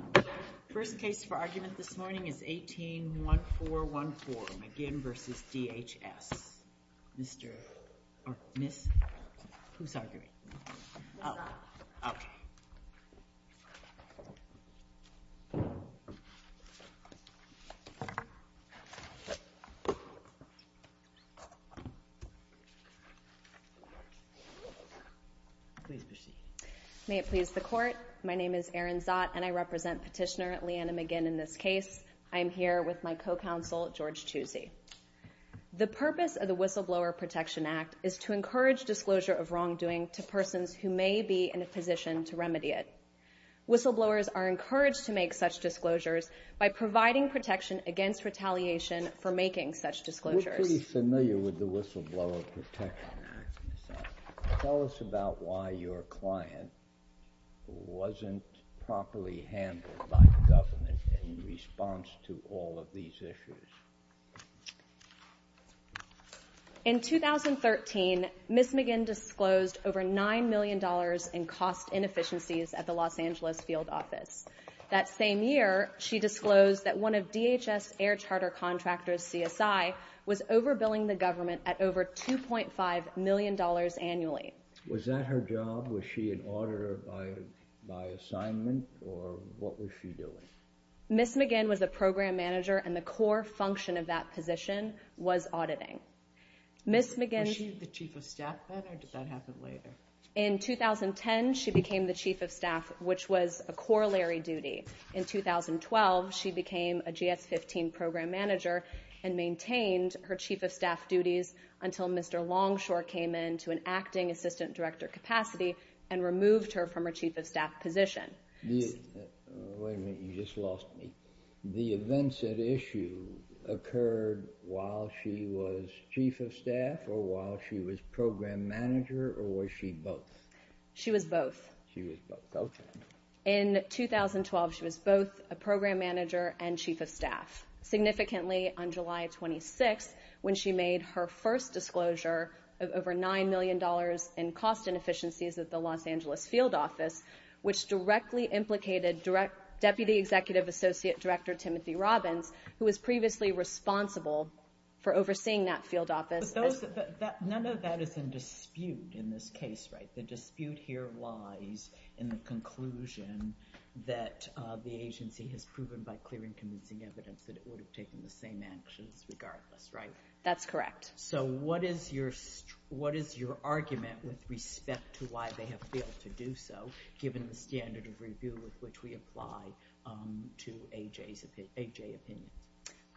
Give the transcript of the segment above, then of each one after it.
The first case for argument this morning is 18-1414 McGinn v. DHS. The purpose of the Whistleblower Protection Act is to encourage disclosure of wrongdoing to persons who may be in a position to remedy it. Whistleblowers are encouraged to make such disclosures by providing protection against attacks on the government. In 2013, Ms. McGinn disclosed over $9 million in cost inefficiencies at the Los Angeles Field Office. That same year, she disclosed that one of DHS air charter contractors, CSI, was over-billing the government at over $2.5 million annually. Was that her job? Was she an auditor by assignment, or what was she doing? Ms. McGinn was a program manager, and the core function of that position was auditing. Ms. McGinn... Was she the chief of staff then, or did that happen later? In 2010, she became the chief of staff, which was a corollary duty. In 2012, she became a GS-15 program manager and maintained her chief of staff duties until Mr. Longshore came in to an acting assistant director capacity and removed her from her chief of staff position. Wait a minute, you just lost me. The events at issue occurred while she was chief of staff, or while she was program manager, or was she both? She was both. She was both. In 2012, she was both a program manager and chief of staff. Significantly, on July 26th, when she made her first disclosure of over $9 million in cost inefficiencies at the Los Angeles field office, which directly implicated Deputy Executive Associate Director Timothy Robbins, who was previously responsible for overseeing that field office. But none of that is in dispute in this case, right? The dispute here lies in the conclusion that the agency has proven by clearing convincing evidence that it would have taken the same actions regardless, right? That's correct. So what is your argument with respect to why they have failed to do so, given the standard of review with which we apply to A.J.'s opinion?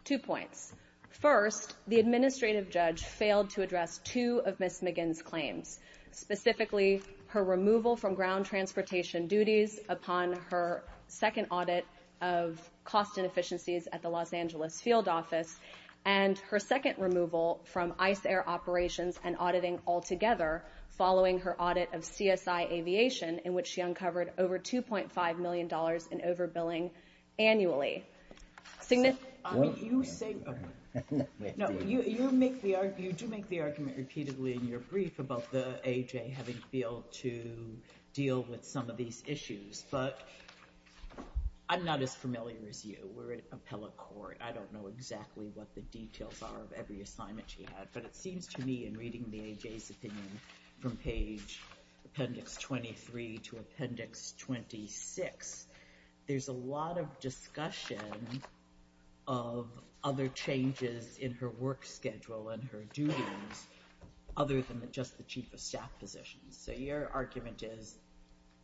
Two points. First, the administrative judge failed to address two of Ms. McGinn's claims, specifically her removal from ground transportation duties upon her second audit of cost inefficiencies at the Los Angeles field office, and her second removal from ICE air operations and auditing altogether following her audit of CSI Aviation, in which she uncovered over $2.5 million in overbilling annually. I mean, you say – no, you make the – you do make the argument repeatedly in your brief about the A.J. having failed to deal with some of these issues, but I'm not as familiar as you. We're in appellate court. I don't know exactly what the details are of every assignment she had, but it seems to me in reading the A.J.'s opinion from page – Appendix 23 to Appendix 26, there's a lot of discussion of other changes in her work schedule and her duties, other than just the chief of staff positions. So your argument is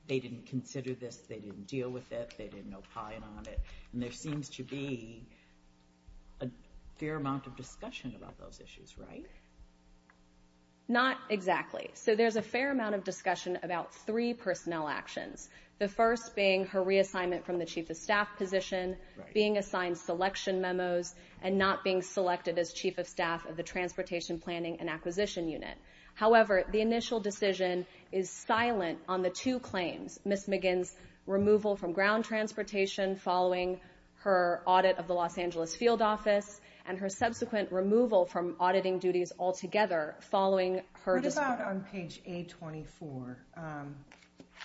they didn't consider this, they didn't deal with it, they didn't opine on it, and there seems to be a fair amount of discussion about those issues, right? Not exactly. So there's a fair amount of discussion about three personnel actions, the first being her reassignment from the chief of staff position, being assigned selection memos, and not being selected as chief of staff of the Transportation Planning and Acquisition Unit. However, the initial decision is silent on the two claims, Ms. McGinn's removal from ground transportation following her audit of the Los Angeles field office, and her subsequent removal from auditing duties altogether following her – What about on page A24?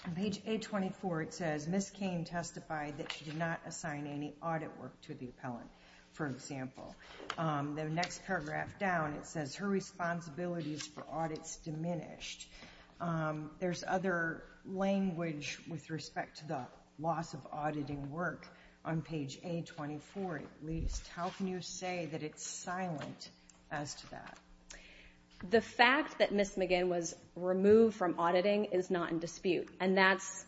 On page A24, it says, Ms. Cain testified that she did not assign any audit work to the appellant, for example. The next paragraph down, it says, her responsibilities for audits diminished. There's other language with respect to the loss of auditing work on page A24, at least. How can you say that it's silent as to that? The fact that Ms. McGinn was removed from auditing is not in dispute, and that's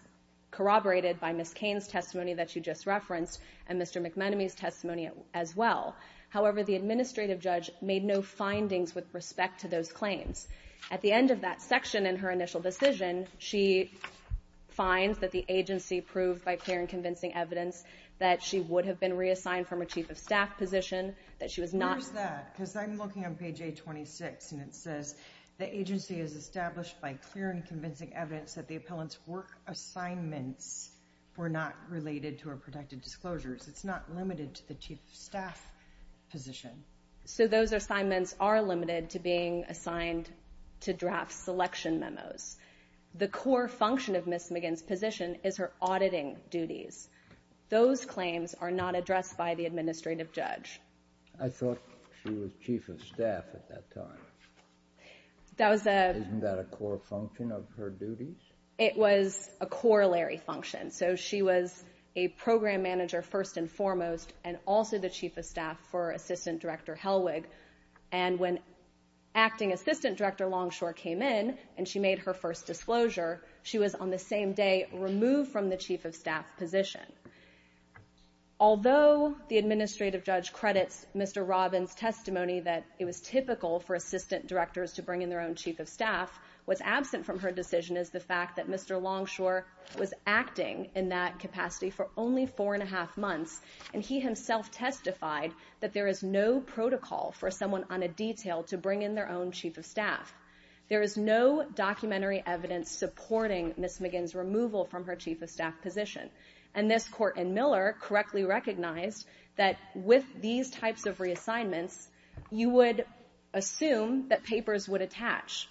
corroborated by Ms. Cain's testimony that you just referenced, and Mr. McManamy's testimony as well. However, the administrative judge made no findings with respect to those claims. At the end of that section in her initial decision, she finds that the agency proved by clear and convincing evidence that she would have been reassigned from a chief of staff position, that she was not – Where is that? Because I'm looking on page A26, and it says, the agency has established by clear and convincing evidence that the appellant's work assignments were not related to her protected disclosures. It's not limited to the chief of staff position. So those assignments are limited to being assigned to draft selection memos. The core function of Ms. McGinn's position is her auditing duties. Those claims are not addressed by the administrative judge. I thought she was chief of staff at that time. That was a – Isn't that a core function of her duties? It was a corollary function. So she was a program manager first and foremost, and also the chief of staff for assistant director Helwig. And when acting assistant director Longshore came in and she made her first disclosure, she was on the same day removed from the chief of staff position. Although the administrative judge credits Mr. Robbins' testimony that it was typical for assistant directors to bring in their own chief of staff, what's absent from her acting in that capacity for only four and a half months, and he himself testified that there is no protocol for someone on a detail to bring in their own chief of staff. There is no documentary evidence supporting Ms. McGinn's removal from her chief of staff position. And this court in Miller correctly recognized that with these types of reassignments, you would assume that papers would attach.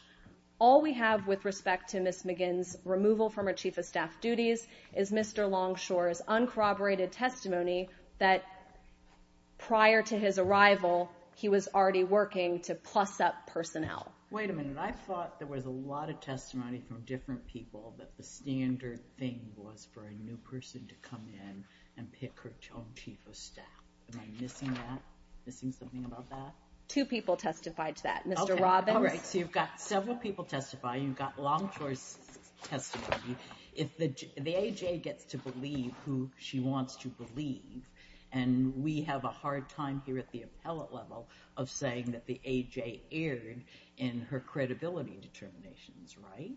All we have with respect to Ms. McGinn's removal from her chief of staff duties is Mr. Longshore's uncorroborated testimony that prior to his arrival, he was already working to plus-up personnel. Wait a minute. I thought there was a lot of testimony from different people that the standard thing was for a new person to come in and pick her own chief of staff. Am I missing that, missing something about that? Two people testified to that. Mr. Robbins – All right. So you've got several people testifying. You've got Longshore's testimony. If the AJ gets to believe who she wants to believe, and we have a hard time here at the appellate level of saying that the AJ erred in her credibility determinations, right?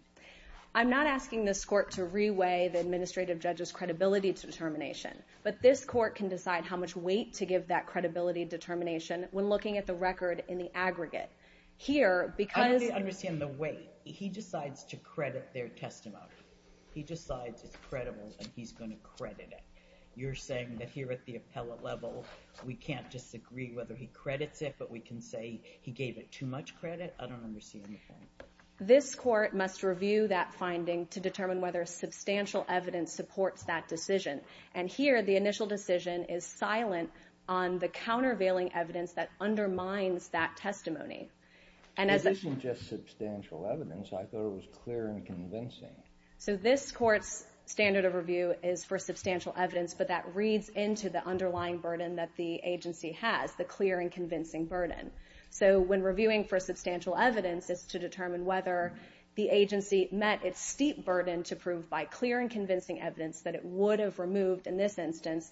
I'm not asking this court to re-weigh the administrative judge's credibility determination, but this court can decide how much weight to give that credibility determination when looking at the record in the aggregate. Here, because – I don't understand the weight. He decides to credit their testimony. He decides it's credible, and he's going to credit it. You're saying that here at the appellate level, we can't disagree whether he credits it, but we can say he gave it too much credit? I don't understand the point. This court must review that finding to determine whether substantial evidence supports that decision. And here, the initial decision is silent on the countervailing evidence that undermines that testimony. And as a – This isn't just substantial evidence. I thought it was clear and convincing. So this court's standard of review is for substantial evidence, but that reads into the underlying burden that the agency has, the clear and convincing burden. So when reviewing for substantial evidence, it's to determine whether the agency met its steep burden to prove by clear and convincing evidence that it would have removed, in this But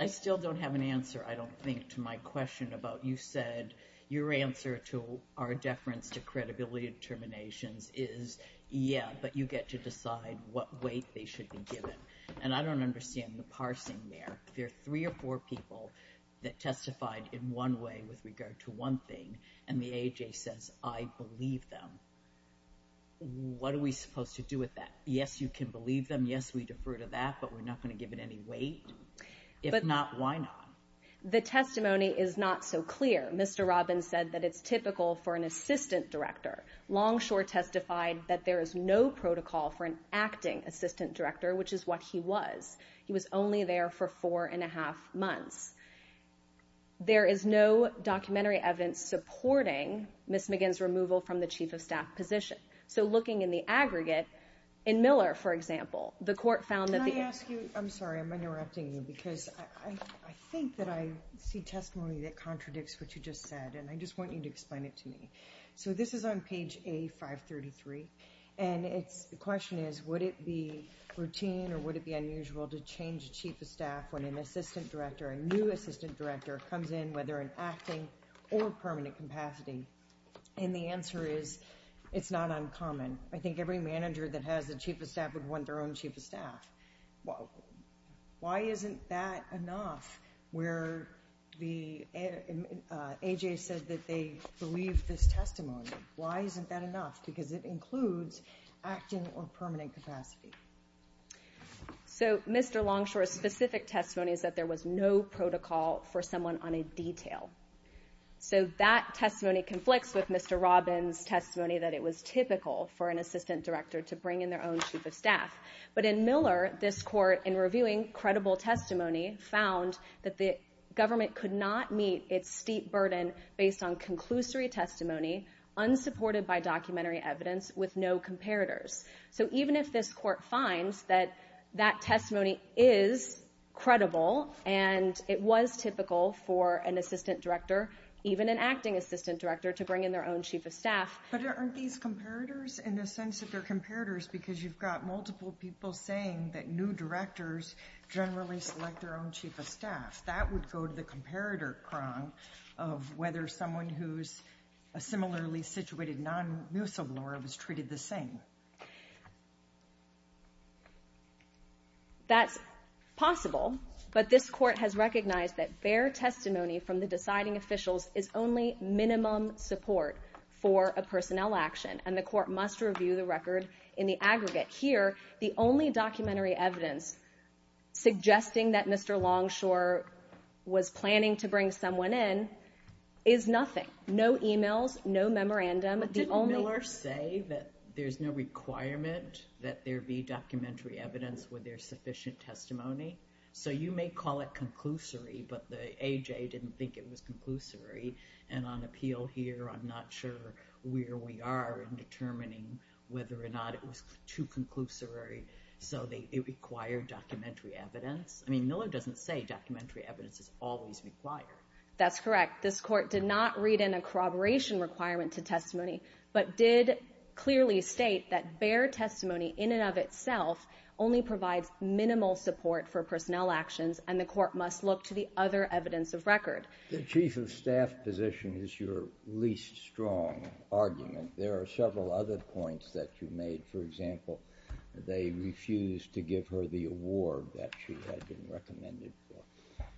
I still don't have an answer, I don't think, to my question about you said your answer to our deference to credibility determinations is, yeah, but you get to decide what weight they should be given. And I don't understand the parsing there. There are three or four people that testified in one way with regard to one thing, and the AAJ says, I believe them. What are we supposed to do with that? Yes, you can believe them. And yes, we defer to that, but we're not going to give it any weight. If not, why not? The testimony is not so clear. Mr. Robbins said that it's typical for an assistant director. Longshore testified that there is no protocol for an acting assistant director, which is what he was. He was only there for four and a half months. There is no documentary evidence supporting Ms. McGinn's removal from the chief of staff position. So looking in the aggregate, in Miller, for example, the court found that the- Can I ask you, I'm sorry, I'm interrupting you because I think that I see testimony that contradicts what you just said, and I just want you to explain it to me. So this is on page A533, and the question is, would it be routine or would it be unusual to change a chief of staff when an assistant director, a new assistant director, comes in, whether in acting or permanent capacity? And the answer is, it's not uncommon. I think every manager that has a chief of staff would want their own chief of staff. Why isn't that enough where the- AJ said that they believe this testimony. Why isn't that enough? Because it includes acting or permanent capacity. So Mr. Longshore's specific testimony is that there was no protocol for someone on a detail. So that testimony conflicts with Mr. Robbins' testimony that it was typical for an assistant director to bring in their own chief of staff. But in Miller, this court, in reviewing credible testimony, found that the government could not meet its steep burden based on conclusory testimony, unsupported by documentary evidence with no comparators. So even if this court finds that that testimony is credible and it was typical for an assistant director, even an acting assistant director, to bring in their own chief of staff- But aren't these comparators in the sense that they're comparators because you've got multiple people saying that new directors generally select their own chief of staff. That would go to the comparator prong of whether someone who's a similarly situated non-musal lawyer was treated the same. That's possible, but this court has recognized that bare testimony from the deciding officials is only minimum support for a personnel action, and the court must review the record in the aggregate. Here, the only documentary evidence suggesting that Mr. Longshore was planning to bring someone in is nothing. No emails, no memorandum. Didn't Miller say that there's no requirement that there be documentary evidence where there's sufficient testimony? So you may call it conclusory, but the AJ didn't think it was conclusory, and on appeal here I'm not sure where we are in determining whether or not it was too conclusory. So it required documentary evidence. I mean, Miller doesn't say documentary evidence is always required. That's correct. This court did not read in a corroboration requirement to testimony, but did clearly state that bare testimony in and of itself only provides minimal support for personnel actions, and the court must look to the other evidence of record. The chief of staff position is your least strong argument. There are several other points that you made. For example, they refused to give her the award that she had been recommended for.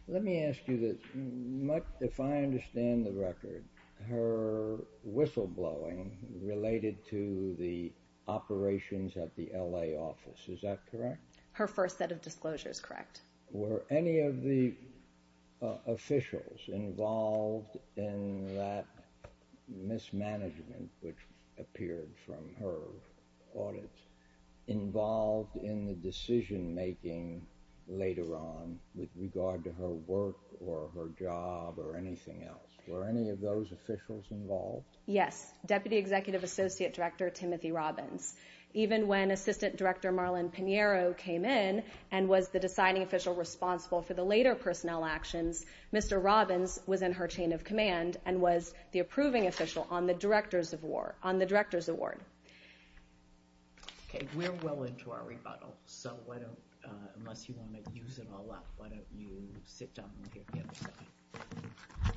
Let me ask you this. If I understand the record, her whistleblowing related to the operations at the L.A. office. Is that correct? Her first set of disclosures, correct. Were any of the officials involved in that mismanagement, which appeared from her audit, involved in the decision-making later on with regard to her work or her job or anything else? Were any of those officials involved? Yes, Deputy Executive Associate Director Timothy Robbins. Even when Assistant Director Marlon Pinheiro came in and was the deciding official responsible for the later personnel actions, Mr. Robbins was in her chain of command and was the approving official on the Director's Award. Okay, we're well into our rebuttal, so why don't, unless you want to use it all up, why don't you sit down and give the other side.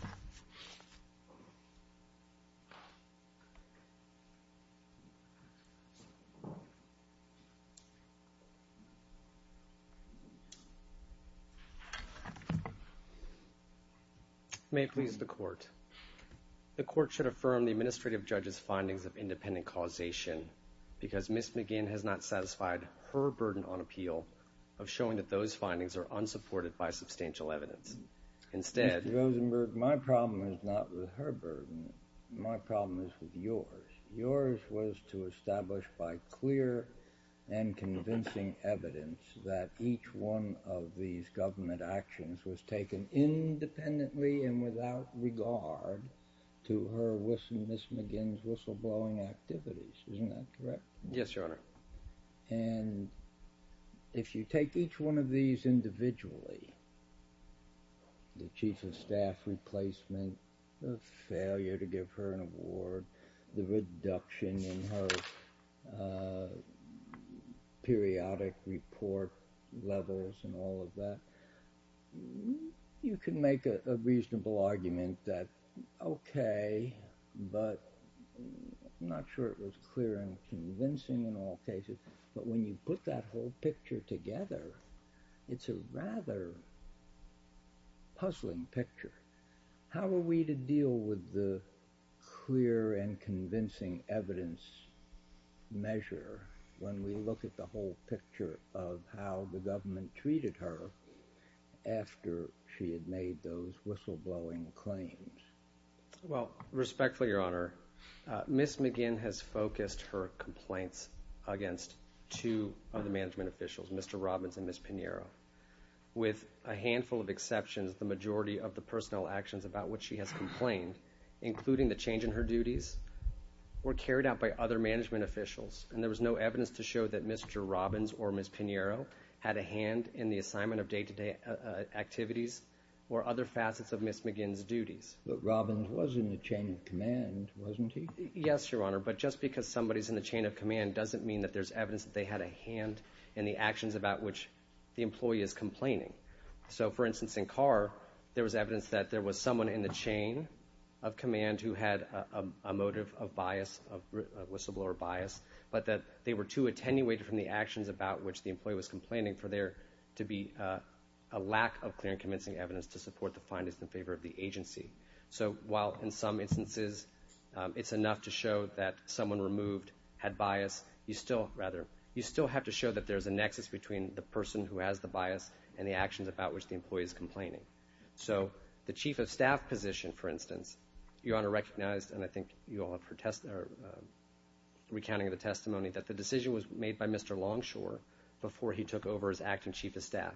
May it please the court. The court should affirm the Administrative Judge's findings of independent causation because Ms. McGinn has not satisfied her burden on appeal of showing that those findings are unsupported by substantial evidence. Instead... Mr. Rosenberg, my problem is not with her burden. My problem is with yours. Yours was to establish by clear and convincing evidence that each one of these government actions was taken independently and without regard to her whistle, Ms. McGinn's whistleblowing activities. Isn't that correct? Yes, Your Honor. And if you take each one of these individually, the Chief of Staff replacement, the failure to give her an award, the reduction in her periodic report levels and all of that, you can make a reasonable argument that, okay, but I'm not sure it was clear and convincing in all cases, but when you put that whole picture together, it's a rather puzzling picture. How are we to deal with the clear and convincing evidence measure when we look at the whole picture of how the government treated her after she had made those whistleblowing claims? Well, respectfully, Your Honor, Ms. McGinn has focused her complaints against two of the management officials, Mr. Robbins and Ms. Pinheiro. With a handful of exceptions, the majority of the personnel actions about which she has complained, including the change in her duties, were carried out by other management officials, and there was no evidence to show that Mr. Robbins or Ms. Pinheiro had a hand in the assignment of day-to-day activities or other facets of Ms. McGinn's duties. But Robbins was in the chain of command, wasn't he? Yes, Your Honor, but just because somebody's in the chain of command doesn't mean that there's evidence that they had a hand in the actions about which the employee is complaining. So, for instance, in Carr, there was evidence that there was someone in the chain of command who had a motive of bias, of whistleblower bias, but that they were too attenuated from the actions about which the employee was complaining for there to be a lack of clear and convincing evidence to support the findings in favor of the agency. So while in some instances it's enough to show that someone removed had bias, you still have to show that there's a nexus between the person who has the bias and the actions about which the employee is complaining. So the chief of staff position, for instance, Your Honor recognized, and I think you all have heard recounting of the testimony, that the decision was made by Mr. Longshore before he took over as acting chief of staff.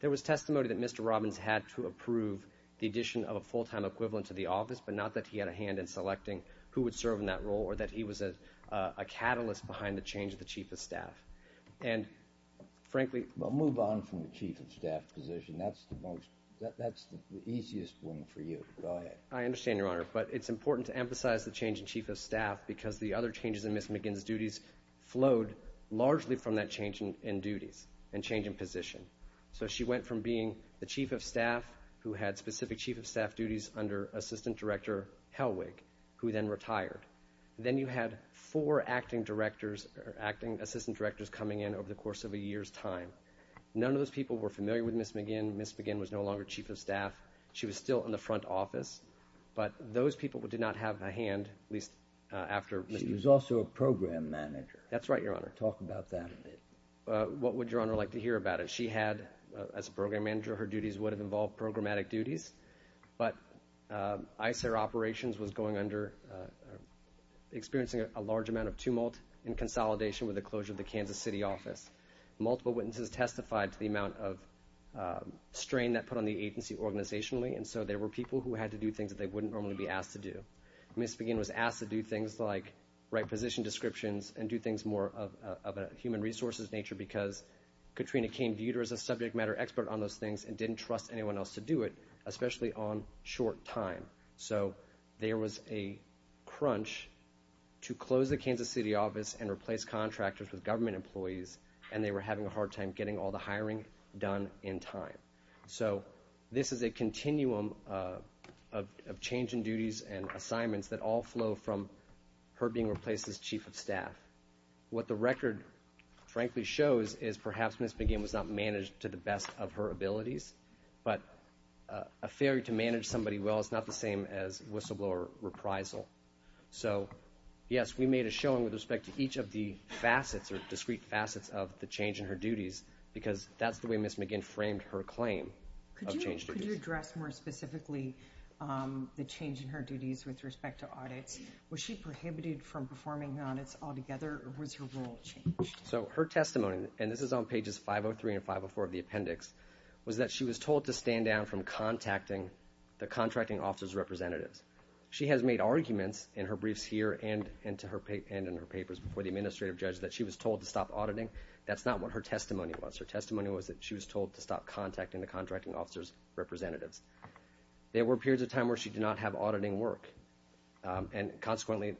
There was testimony that Mr. Robbins had to approve the addition of a full-time equivalent to the office, but not that he had a hand in selecting who would serve in that role or that he was a catalyst behind the change of the chief of staff. And frankly— Well, move on from the chief of staff position. That's the easiest one for you. Go ahead. I understand, Your Honor, but it's important to emphasize the change in chief of staff because the other changes in Ms. McGinn's duties flowed largely from that change in duties and change in position. So she went from being the chief of staff who had specific chief of staff duties under assistant director Helwig, who then retired. Then you had four acting directors or acting assistant directors coming in over the course of a year's time. None of those people were familiar with Ms. McGinn. Ms. McGinn was no longer chief of staff. She was still in the front office, but those people did not have a hand, at least after— She was also a program manager. That's right, Your Honor. Talk about that. What would Your Honor like to hear about it? She had, as a program manager, her duties would have involved programmatic duties, but ICER operations was experiencing a large amount of tumult in consolidation with the closure of the Kansas City office. Multiple witnesses testified to the amount of strain that put on the agency organizationally, and so there were people who had to do things that they wouldn't normally be asked to do. Ms. McGinn was asked to do things like write position descriptions and do things more of a human resources nature because Katrina Caine viewed her as a subject matter expert on those things and didn't trust anyone else to do it, especially on short time. So there was a crunch to close the Kansas City office and replace contractors with government employees, and they were having a hard time getting all the hiring done in time. So this is a continuum of change in duties and assignments that all flow from her being replaced as chief of staff. What the record frankly shows is perhaps Ms. McGinn was not managed to the best of her abilities, but a failure to manage somebody well is not the same as whistleblower reprisal. So, yes, we made a showing with respect to each of the facets or discrete facets of the change in her duties because that's the way Ms. McGinn framed her claim of changed duties. Could you address more specifically the change in her duties with respect to audits? Was she prohibited from performing audits altogether or was her role changed? So her testimony, and this is on pages 503 and 504 of the appendix, was that she was told to stand down from contacting the contracting officer's representatives. She has made arguments in her briefs here and in her papers before the administrative judge that she was told to stop auditing. That's not what her testimony was. Her testimony was that she was told to stop contacting the contracting officer's representatives. There were periods of time where she did not have auditing work, and consequently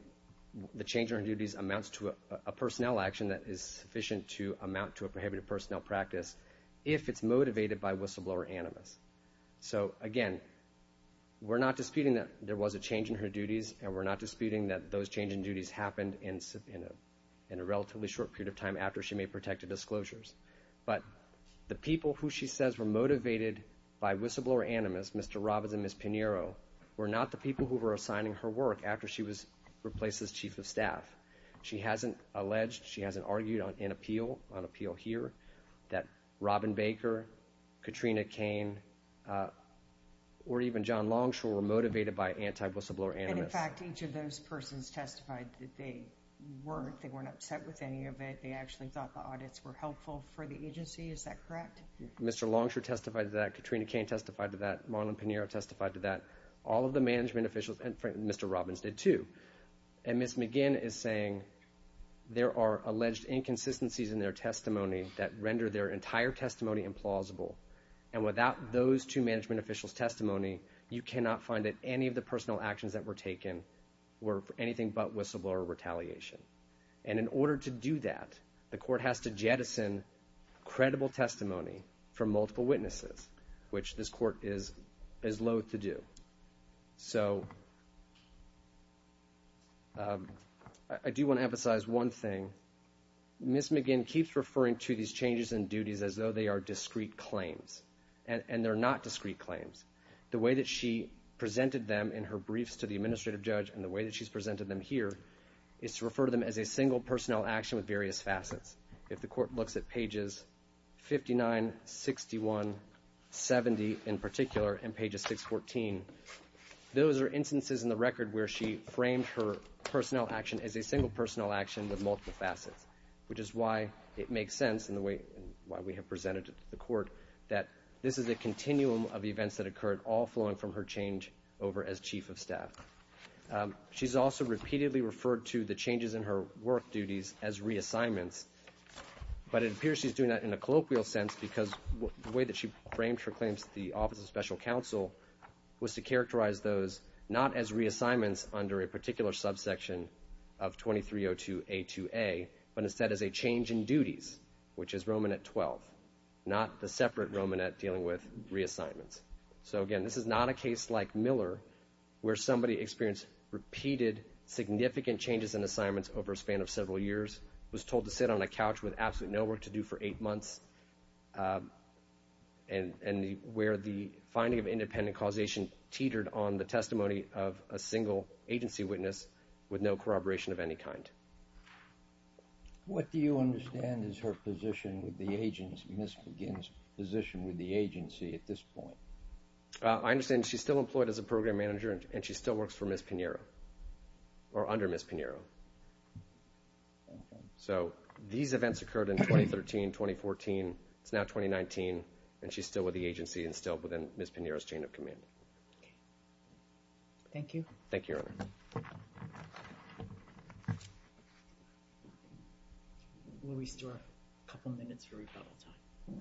the change in her duties amounts to a personnel action that is sufficient to amount to a prohibited personnel practice if it's motivated by whistleblower animus. So, again, we're not disputing that there was a change in her duties and we're not disputing that those change in duties happened in a relatively short period of time after she made protective disclosures. But the people who she says were motivated by whistleblower animus, Mr. Robbins and Ms. Pinheiro, were not the people who were assigning her work after she was replaced as chief of staff. She hasn't alleged, she hasn't argued on appeal here, that Robin Baker, Katrina Cain, or even John Longshore were motivated by anti-whistleblower animus. And, in fact, each of those persons testified that they weren't. They weren't upset with any of it. They actually thought the audits were helpful for the agency. Is that correct? Mr. Longshore testified to that. Katrina Cain testified to that. Marlon Pinheiro testified to that. All of the management officials, and Mr. Robbins did too. And Ms. McGinn is saying there are alleged inconsistencies in their testimony And without those two management officials' testimony, you cannot find that any of the personal actions that were taken were anything but whistleblower retaliation. And in order to do that, the court has to jettison credible testimony from multiple witnesses, which this court is loathe to do. So I do want to emphasize one thing. Ms. McGinn keeps referring to these changes in duties as though they are discrete claims. And they're not discrete claims. The way that she presented them in her briefs to the administrative judge and the way that she's presented them here is to refer to them as a single personnel action with various facets. If the court looks at pages 59, 61, 70 in particular, and pages 614, those are instances in the record where she framed her personnel action as a single personnel action with multiple facets, which is why it makes sense in the way we have presented it to the court that this is a continuum of events that occurred, all flowing from her change over as chief of staff. She's also repeatedly referred to the changes in her work duties as reassignments, but it appears she's doing that in a colloquial sense because the way that she framed her claims to the Office of Special Counsel was to characterize those not as reassignments under a particular subsection of 2302A2A, but instead as a change in duties, which is Romanet 12, not the separate Romanet dealing with reassignments. So again, this is not a case like Miller where somebody experienced repeated significant changes in assignments over a span of several years, was told to sit on a couch with absolutely no work to do for eight months, and where the finding of independent causation teetered on the testimony of a single agency witness with no corroboration of any kind. What do you understand is her position with the agency? Ms. McGinn's position with the agency at this point? I understand she's still employed as a program manager, and she still works for Ms. Pinheiro, or under Ms. Pinheiro. So these events occurred in 2013, 2014. It's now 2019, and she's still with the agency and still within Ms. Pinheiro's chain of command. Thank you. Thank you. We'll restore a couple minutes for rebuttal time.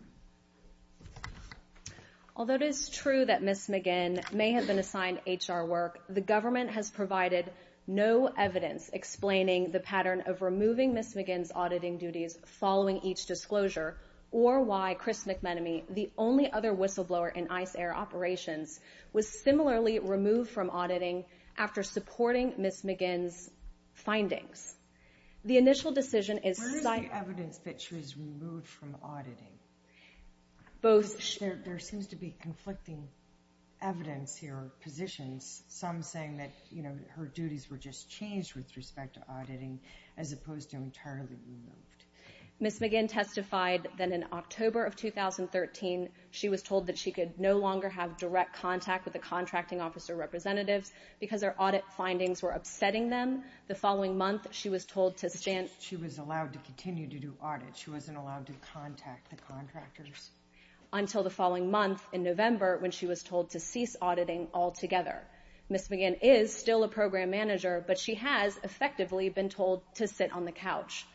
Although it is true that Ms. McGinn may have been assigned HR work, the government has provided no evidence explaining the pattern of removing Ms. McGinn's auditing duties following each disclosure, or why Chris McMenemy, the only other whistleblower in ICE Air Operations, was similarly removed from auditing after supporting Ms. McGinn's findings. Where is the evidence that she was removed from auditing? There seems to be conflicting evidence here, positions, some saying that her duties were just changed with respect to auditing as opposed to entirely removed. Ms. McGinn testified that in October of 2013, she was told that she could no longer have direct contact with the contracting officer representatives because her audit findings were upsetting them. The following month, she was told to stand... She was allowed to continue to do audits. She wasn't allowed to contact the contractors. Until the following month, in November, when she was told to cease auditing altogether. Ms. McGinn is still a program manager, but she has effectively been told to sit on the couch.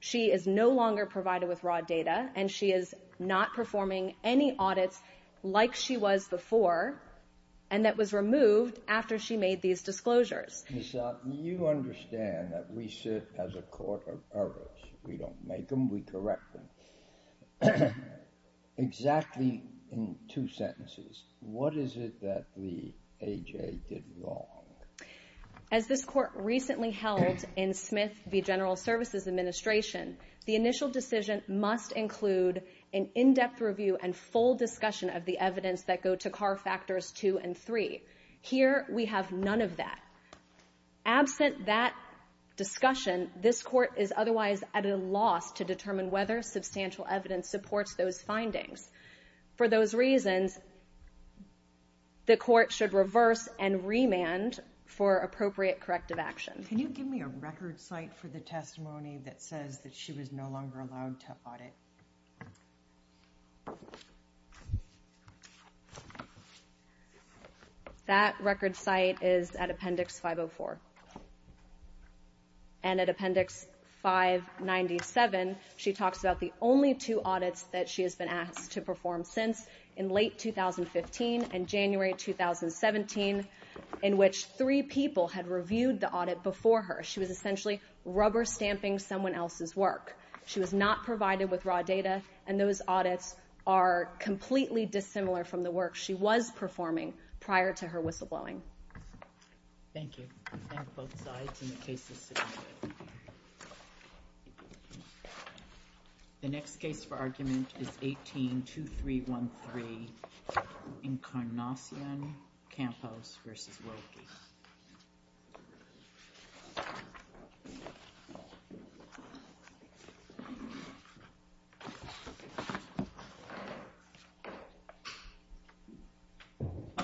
She is no longer provided with raw data, and she is not performing any audits like she was before, and that was removed after she made these disclosures. Ms. Sotin, you understand that we sit as a court of errors. We don't make them, we correct them. Exactly in two sentences, what is it that the A.J. did wrong? As this court recently held in Smith v. General Services Administration, the initial decision must include an in-depth review and full discussion of the evidence that go to CAR Factors 2 and 3. Here, we have none of that. Absent that discussion, this court is otherwise at a loss to determine whether substantial evidence supports those findings. For those reasons, the court should reverse and remand for appropriate corrective action. Can you give me a record site for the testimony that says that she was no longer allowed to audit? That record site is at Appendix 504. And at Appendix 597, she talks about the only two audits that she has been asked to perform since in late 2015 and January 2017, in which three people had reviewed the audit before her. She was essentially rubber stamping someone else's work. She was not provided with raw data, and those audits are completely dissimilar from the work she was performing prior to her whistleblowing. Thank you. And both sides, and the case is submitted. The next case for argument is 18-2313, Incarnacion Campos v. Wilkie.